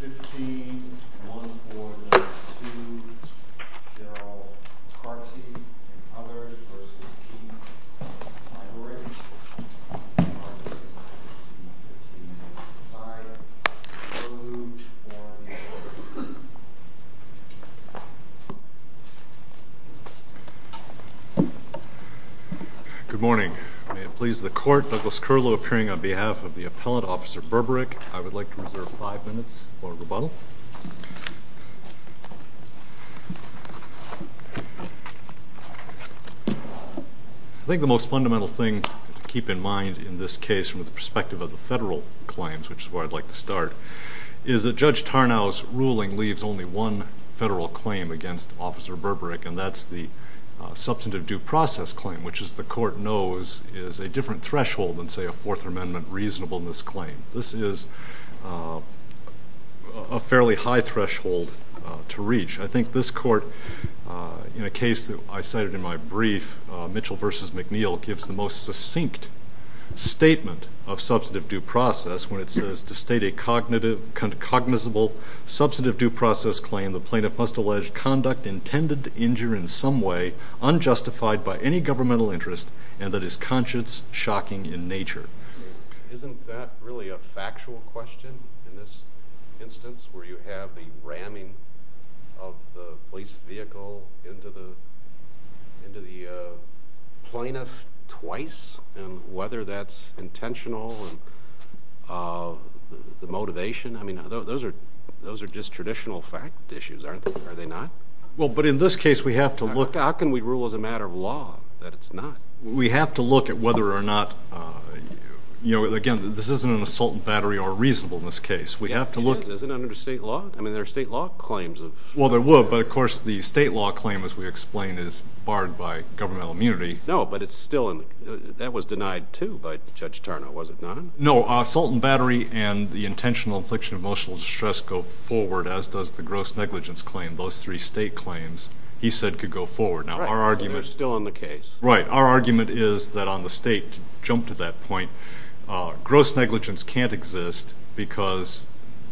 15.1.4.2 Gerald Carty v. Birberick 15.5.3.4.4. I think the most fundamental thing to keep in mind in this case from the perspective of the federal claims, which is where I'd like to start, is that Judge Tarnow's ruling leaves only one federal claim against Officer Birberick, and that's the substantive due process claim, which as the court knows is a different threshold than, say, a Fourth Amendment reasonableness claim. This is a fairly high threshold to reach. I think this court, in a case that I cited in my brief, Mitchell v. McNeil, gives the most succinct statement of substantive due process when it says to state a cognizable due process claim, the plaintiff must allege conduct intended to injure in some way unjustified by any governmental interest, and that is conscience-shocking in nature. Isn't that really a factual question in this instance, where you have the ramming of the police vehicle into the plaintiff twice? Whether that's intentional, the motivation, I mean, those are just traditional fact issues, aren't they? Are they not? Well, but in this case, we have to look— How can we rule as a matter of law that it's not? We have to look at whether or not—you know, again, this isn't an assault and battery or reasonable in this case. We have to look— It is. Isn't it under state law? I mean, there are state law claims of— Well, there were, but of course, the state law claim, as we explained, is barred by governmental immunity. No, but it's still—that was denied, too, by Judge Tarnow, was it not? No. Assault and battery and the intentional infliction of emotional distress go forward, as does the gross negligence claim. Those three state claims, he said, could go forward. Now, our argument— Right. So they're still in the case. Right. Our argument is that on the state, to jump to that point, gross negligence can't exist because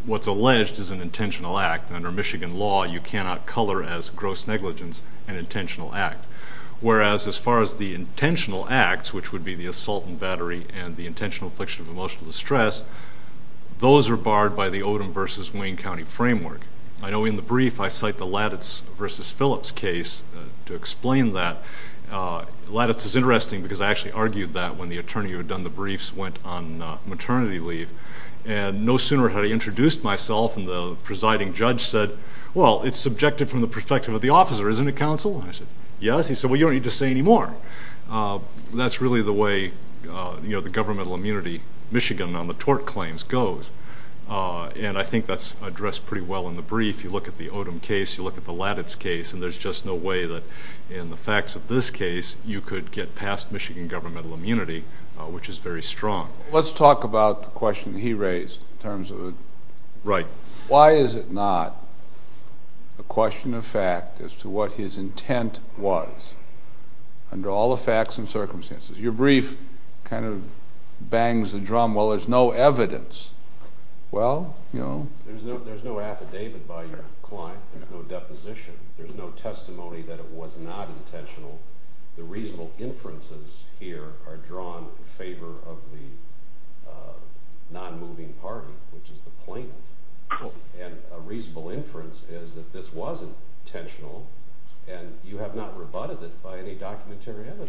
what's alleged is an intentional act. Under Michigan law, you cannot color as gross negligence an intentional act, whereas as far as the intentional acts, which would be the assault and battery and the intentional infliction of emotional distress, those are barred by the Odom v. Wayne County framework. I know in the brief, I cite the Lattice v. Phillips case to explain that. Lattice is interesting because I actually argued that when the attorney who had done the briefs went on maternity leave, and no sooner had I introduced myself and the presiding judge said, well, it's subjective from the perspective of the officer, isn't it, counsel? I said, yes. He said, well, you don't need to say any more. That's really the way the governmental immunity, Michigan on the tort claims, goes. And I think that's addressed pretty well in the brief. You look at the Odom case, you look at the Lattice case, and there's just no way that in the facts of this case, you could get past Michigan governmental immunity, which is very strong. Let's talk about the question he raised in terms of— Right. Why is it not a question of fact as to what his intent was under all the facts and circumstances? Your brief kind of bangs the drum, well, there's no evidence. Well, you know— There's no affidavit by your client. There's no deposition. There's no testimony that it was not intentional. The reasonable inferences here are drawn in favor of the non-moving party, which is the plaintiff. And a reasonable inference is that this wasn't intentional, and you have not rebutted it by any documentarian.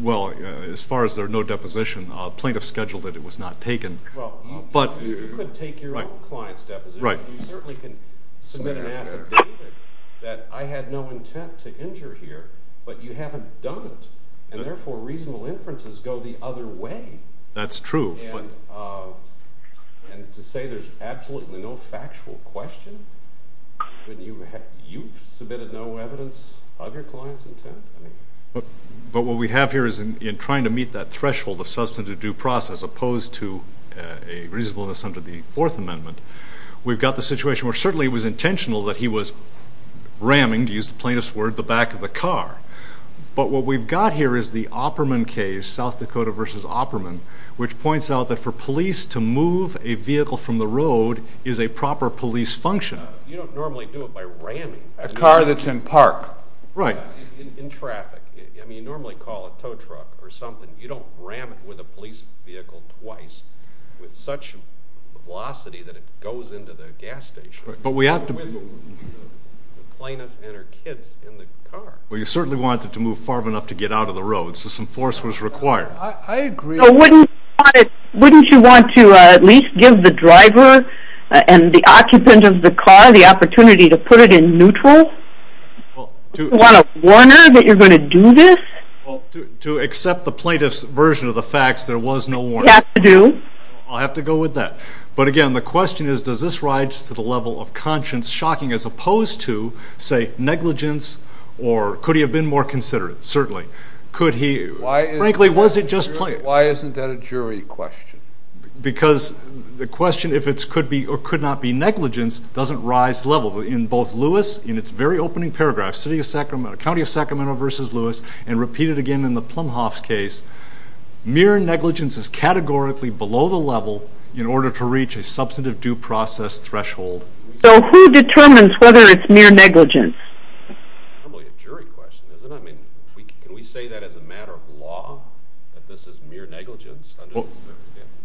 Well, as far as there's no deposition, plaintiff scheduled that it was not taken, but— You could take your own client's deposition, but you certainly can submit an affidavit that I had no intent to injure here, but you haven't done it, and therefore reasonable inferences go the other way. That's true. And to say there's absolutely no factual question, when you've submitted no evidence of your client's intent, I mean— But what we have here is in trying to meet that threshold of substantive due process opposed to a reasonableness under the Fourth Amendment, we've got the situation where certainly it was intentional that he was ramming, to use the plaintiff's word, the back of the car. But what we've got here is the Opperman case, South Dakota v. Opperman, which points out that for police to move a vehicle from the road is a proper police function. You don't normally do it by ramming— A car that's in park. Right. In traffic. I mean, you normally call a tow truck or something. You don't ram it with a police vehicle twice with such a velocity that it goes into the gas station. But we have to— With the plaintiff and her kids in the car. Well, you certainly wanted it to move far enough to get out of the road, so some force was required. I agree— So wouldn't you want to at least give the driver and the occupant of the car the opportunity to put it in neutral? Do you want a warner that you're going to do this? To accept the plaintiff's version of the facts, there was no warner. You have to do. I'll have to go with that. But again, the question is, does this rise to the level of conscience shocking as opposed to, say, negligence or could he have been more considerate? Certainly. Could he— Why is— Why isn't that a jury question? Because the question, if it could be or could not be negligence, doesn't rise to the level. In both Lewis, in its very opening paragraph, County of Sacramento v. Lewis, and repeated again in the Plumhoff's case, mere negligence is categorically below the level in order to reach a substantive due process threshold. So who determines whether it's mere negligence? It's probably a jury question, isn't it? I mean, can we say that as a matter of law, that this is mere negligence? Well,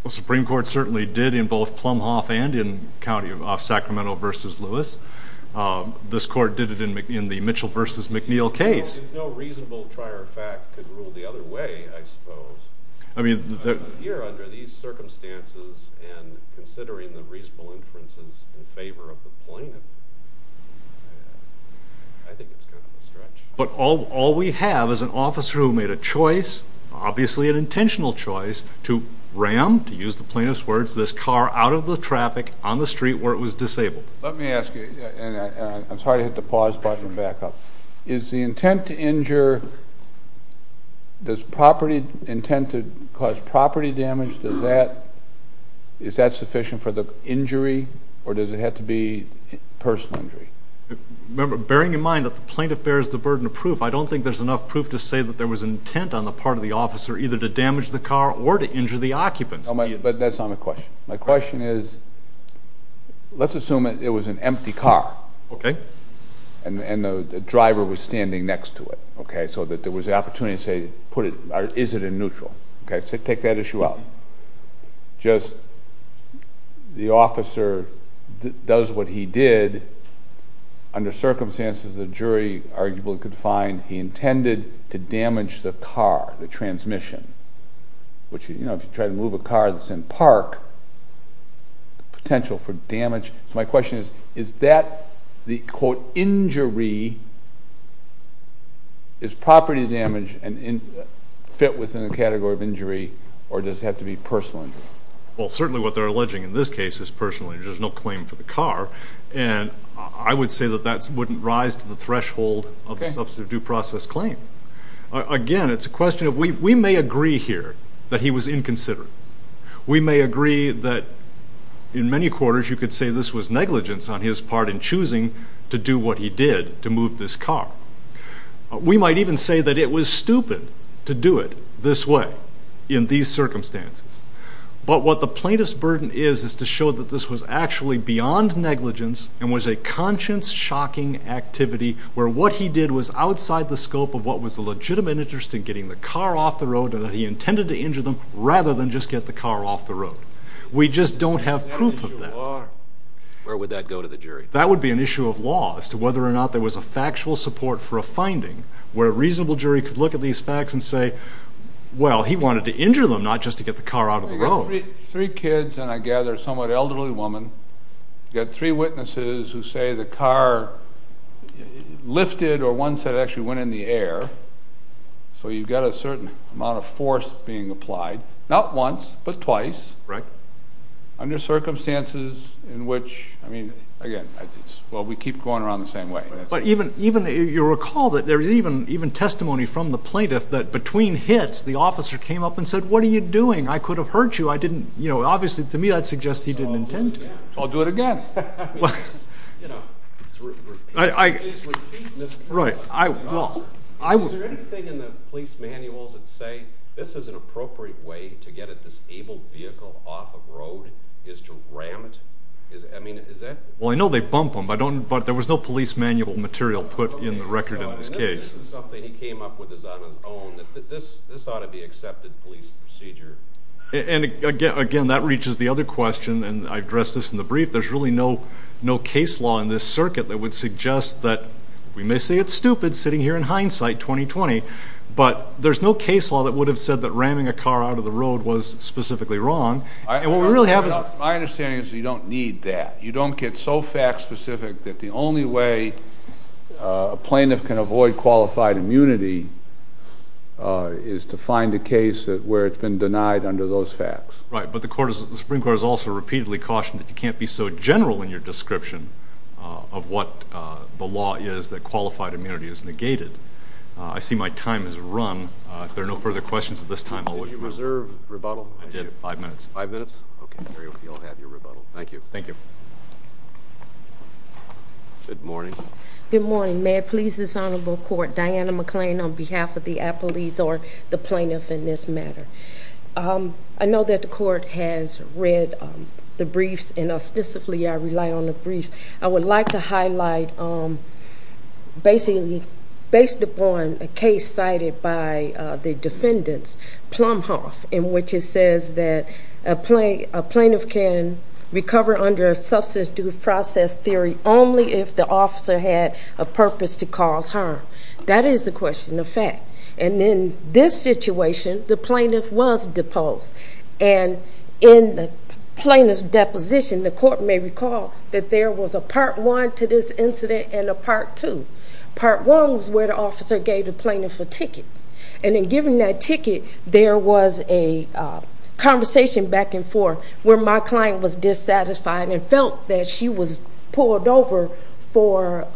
the Supreme Court certainly did in both Plumhoff and in County of Sacramento v. Lewis. This court did it in the Mitchell v. McNeil case. No reasonable trier of fact could rule the other way, I suppose. I mean— Here, under these circumstances, and considering the reasonable inferences in favor of the But all we have is an officer who made a choice, obviously an intentional choice, to ram, to use the plaintiff's words, this car out of the traffic on the street where it was disabled. Let me ask you—and I'm sorry to hit the pause button and back up—is the intent to injure—does property—intent to cause property damage, does that—is that sufficient for the injury, or does it have to be personal injury? Remember, bearing in mind that the plaintiff bears the burden of proof, I don't think there's enough proof to say that there was intent on the part of the officer either to damage the car or to injure the occupants. But that's not my question. My question is, let's assume it was an empty car, and the driver was standing next to it, so that there was the opportunity to say, put it—or is it in neutral? Take that issue out. Just the officer does what he did under circumstances the jury arguably could find he intended to damage the car, the transmission, which, you know, if you try to move a car that's in park, the potential for damage—so my question is, is that the, quote, injury, is it personal injury? Well, certainly what they're alleging in this case is personal injury. There's no claim for the car, and I would say that that wouldn't rise to the threshold of the substantive due process claim. Again, it's a question of—we may agree here that he was inconsiderate. We may agree that in many quarters you could say this was negligence on his part in choosing to do what he did to move this car. We might even say that it was stupid to do it this way in these circumstances, but what the plaintiff's burden is is to show that this was actually beyond negligence and was a conscience-shocking activity where what he did was outside the scope of what was the legitimate interest in getting the car off the road and that he intended to injure them rather than just get the car off the road. We just don't have proof of that. Where would that go to the jury? That would be an issue of law as to whether or not there was a factual support for a finding where a reasonable jury could look at these facts and say, well, he wanted to injure them not just to get the car out of the road. Three kids and I gather a somewhat elderly woman, you've got three witnesses who say the car lifted or once it actually went in the air, so you've got a certain amount of force being applied. Not once, but twice. Right. Under circumstances in which, I mean, again, well, we keep going around the same way. But even, you'll recall that there is even testimony from the plaintiff that between hits the officer came up and said, what are you doing? I could have hurt you. I didn't, you know, obviously to me that suggests he didn't intend to. I'll do it again. You know, it's repeated. Right. Is there anything in the police manuals that say this is an appropriate way to get a disabled vehicle off of road is to ram it? I mean, is that? Well, I know they bump them, but there was no police manual material put in the record in this case. And this is something he came up with on his own, that this ought to be accepted police procedure. And, again, that reaches the other question, and I addressed this in the brief. There's really no case law in this circuit that would suggest that, we may say it's stupid sitting here in hindsight 2020, but there's no case law that would have said that ramming a car out of the road was specifically wrong. And what we really have is- My understanding is you don't need that. You don't get so fact specific that the only way a plaintiff can avoid qualified immunity is to find a case where it's been denied under those facts. Right. But the Supreme Court has also repeatedly cautioned that you can't be so general in your description of what the law is that qualified immunity is negated. I see my time has run. If there are no further questions at this time, I'll let you move. Did you reserve rebuttal? I did. Five minutes. Five minutes? Okay. There you go. You'll have your rebuttal. Thank you. Thank you. Good morning. Good morning. May it please this honorable court, Diana McClain on behalf of the appellees or the plaintiff in this matter. I know that the court has read the briefs, and specifically I rely on the briefs. I would like to highlight basically based upon a case cited by the defendants, Plumhoff, in which it says that a plaintiff can recover under a substance due process theory only if the officer had a purpose to cause harm. That is a question of fact. And in this situation, the plaintiff was deposed. And in the plaintiff's deposition, the court may recall that there was a part one to this incident and a part two. Part one was where the officer gave the plaintiff a ticket. And in giving that ticket, there was a conversation back and forth where my client was dissatisfied and felt that she was pulled over for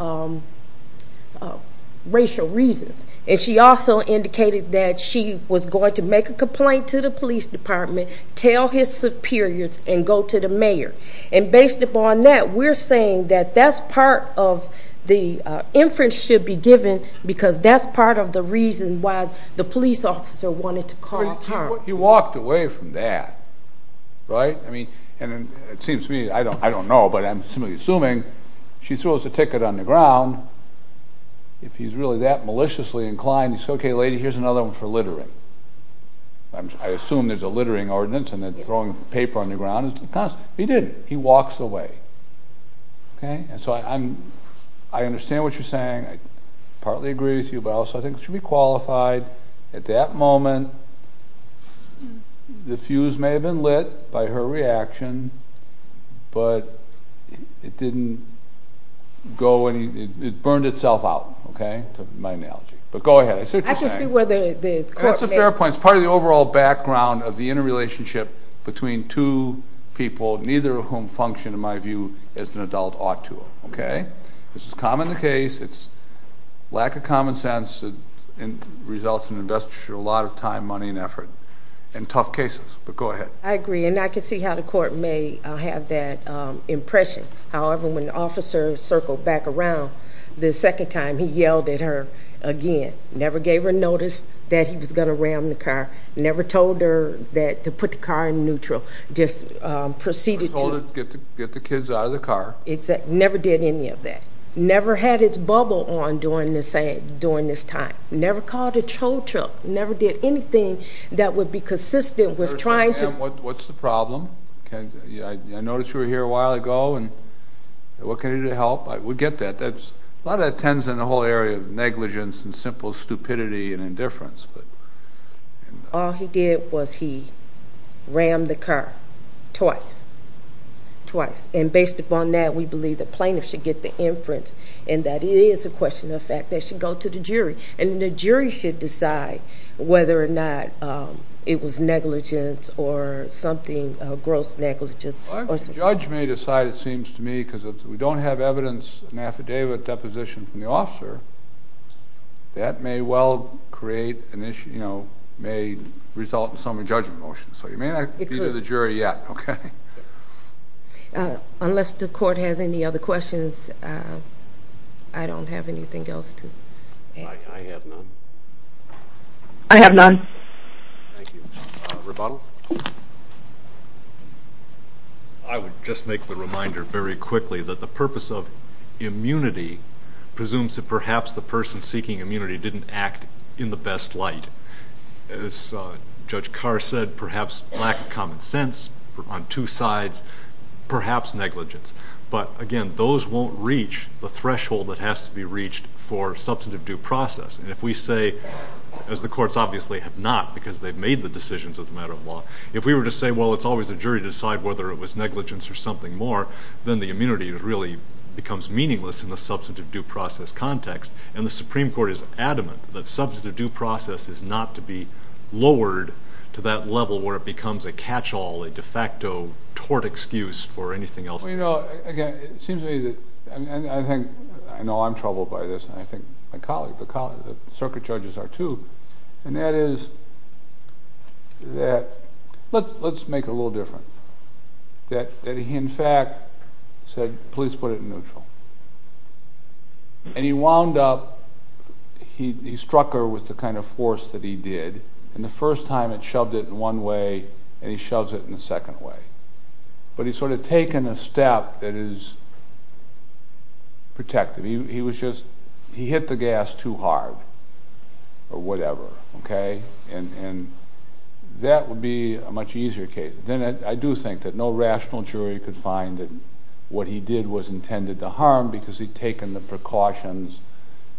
racial reasons. And she also indicated that she was going to make a complaint to the police department, tell his superiors, and go to the mayor. And based upon that, we're saying that that's part of the inference should be given because that's part of the reason why the police officer wanted to cause harm. He walked away from that, right? I mean, and it seems to me, I don't know, but I'm simply assuming she throws a ticket on the ground. If he's really that maliciously inclined, he says, okay, lady, here's another one for littering. I assume there's a littering ordinance and they're throwing paper on the ground. He didn't. He walks away. Okay? And so I understand what you're saying. I partly agree with you, but I also think it should be qualified. At that moment, the fuse may have been lit by her reaction, but it didn't go, it burned itself out. Okay? My analogy. But go ahead. It's interesting. That's a fair point. It's part of the overall background of the interrelationship between two people, neither of whom function, in my view, as an adult ought to. Okay? This is common in the case. It's lack of common sense that results in investiture, a lot of time, money, and effort in tough cases. But go ahead. I agree. And I can see how the court may have that impression. However, when the officer circled back around the second time, he yelled at her again. Never gave her notice that he was going to ram the car. Never told her to put the car in neutral. Just proceeded to... Or told her to get the kids out of the car. Never did any of that. Never had its bubble on during this time. Never called a tow truck. Never did anything that would be consistent with trying to... What's the problem? I noticed you were here a while ago, and what can I do to help? We get that. A lot of that tends in the whole area of negligence and simple stupidity and indifference. All he did was he rammed the car twice, twice. And based upon that, we believe the plaintiff should get the inference, and that it is a question of fact. They should go to the jury, and the jury should decide whether or not it was negligence or something, gross negligence. Well, I think the judge may decide, it seems to me, because if we don't have evidence, an affidavit, deposition from the officer, that may well create an issue, may result in some judgment motion. So you may not be to the jury yet, okay? Unless the court has any other questions, I don't have anything else to add. I have none. I have none. Thank you. Rebuttal? I would just make the reminder very quickly that the purpose of immunity presumes that perhaps the person seeking immunity didn't act in the best light. As Judge Carr said, perhaps lack of common sense on two sides, perhaps negligence. But, again, those won't reach the threshold that has to be reached for substantive due process. And if we say, as the courts obviously have not, because they've made the decisions as a matter of law, if we were to say, well, it's always the jury to decide whether it was negligence or something more, then the immunity really becomes meaningless in the substantive due process context. And the Supreme Court is adamant that substantive due process is not to be lowered to that level where it becomes a catch-all, a de facto tort excuse for anything else. Well, you know, again, it seems to me that, and I think, I know I'm troubled by this, and I think my colleague, the circuit judges are too, and that is that, let's make it a little different, that he in fact said, please put it in neutral. And he wound up, he struck her with the kind of force that he did, and the first time it shoved it in one way, and he shoves it in the second way. But he's sort of taken a step that is protective. He was just, he hit the gas too hard, or whatever, okay? And that would be a much easier case. Then I do think that no rational jury could find that what he did was intended to harm because he'd taken the precautions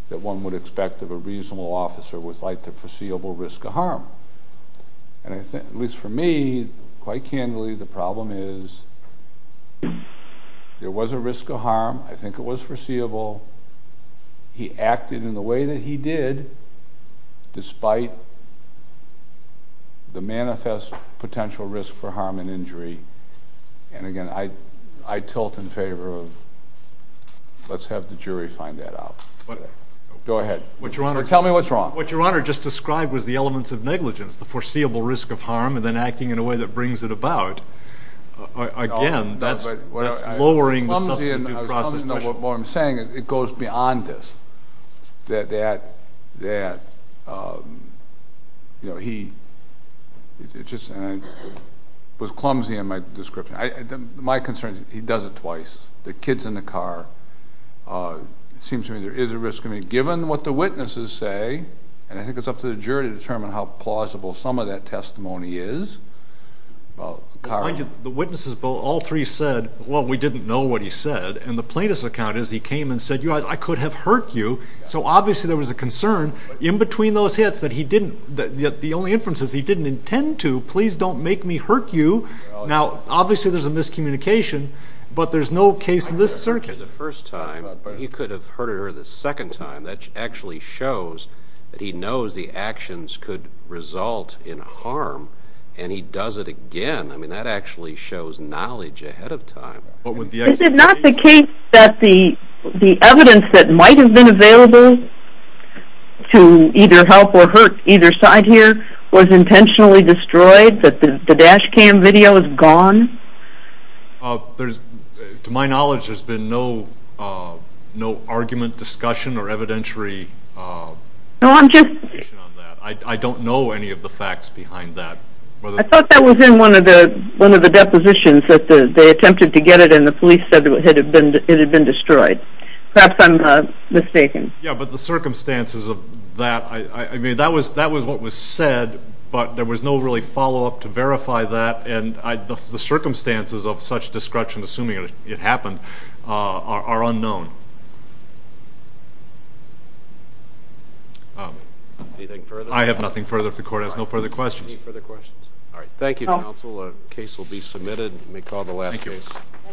that one would expect of a reasonable officer with like the foreseeable risk of harm. And I think, at least for me, quite candidly, the problem is there was a risk of harm. I think it was foreseeable. He acted in the way that he did despite the manifest potential risk for harm and injury. And again, I tilt in favor of let's have the jury find that out. Go ahead. Tell me what's wrong. What Your Honor just described was the elements of negligence, the foreseeable risk of harm, and then acting in a way that brings it about. Again, that's lowering the substantive process. What I'm saying is it goes beyond this, that he just was clumsy in my description. My concern is he does it twice. The kid's in the car. It seems to me there is a risk. Given what the witnesses say, and I think it's up to the jury to determine how plausible some of that testimony is. The witnesses, all three, said, well, we didn't know what he said. And the plaintiff's account is he came and said, you guys, I could have hurt you. So obviously there was a concern in between those hits that the only inference is he didn't intend to. Please don't make me hurt you. Now, obviously there's a miscommunication, but there's no case in this circuit. He could have hurt her the first time, but he could have hurt her the second time. That actually shows that he knows the actions could result in harm, and he does it again. I mean, that actually shows knowledge ahead of time. Is it not the case that the evidence that might have been available to either help or hurt either side here was intentionally destroyed, that the dash cam video is gone? To my knowledge, there's been no argument, discussion, or evidentiary information on that. I don't know any of the facts behind that. I thought that was in one of the depositions that they attempted to get it, and the police said it had been destroyed. Perhaps I'm mistaken. Yeah, but the circumstances of that, I mean, that was what was said, but there was no really follow-up to verify that, and the circumstances of such destruction, assuming it happened, are unknown. Anything further? I have nothing further if the Court has no further questions. Any further questions? All right. Thank you, counsel. A case will be submitted. We may call the last case. Thank you.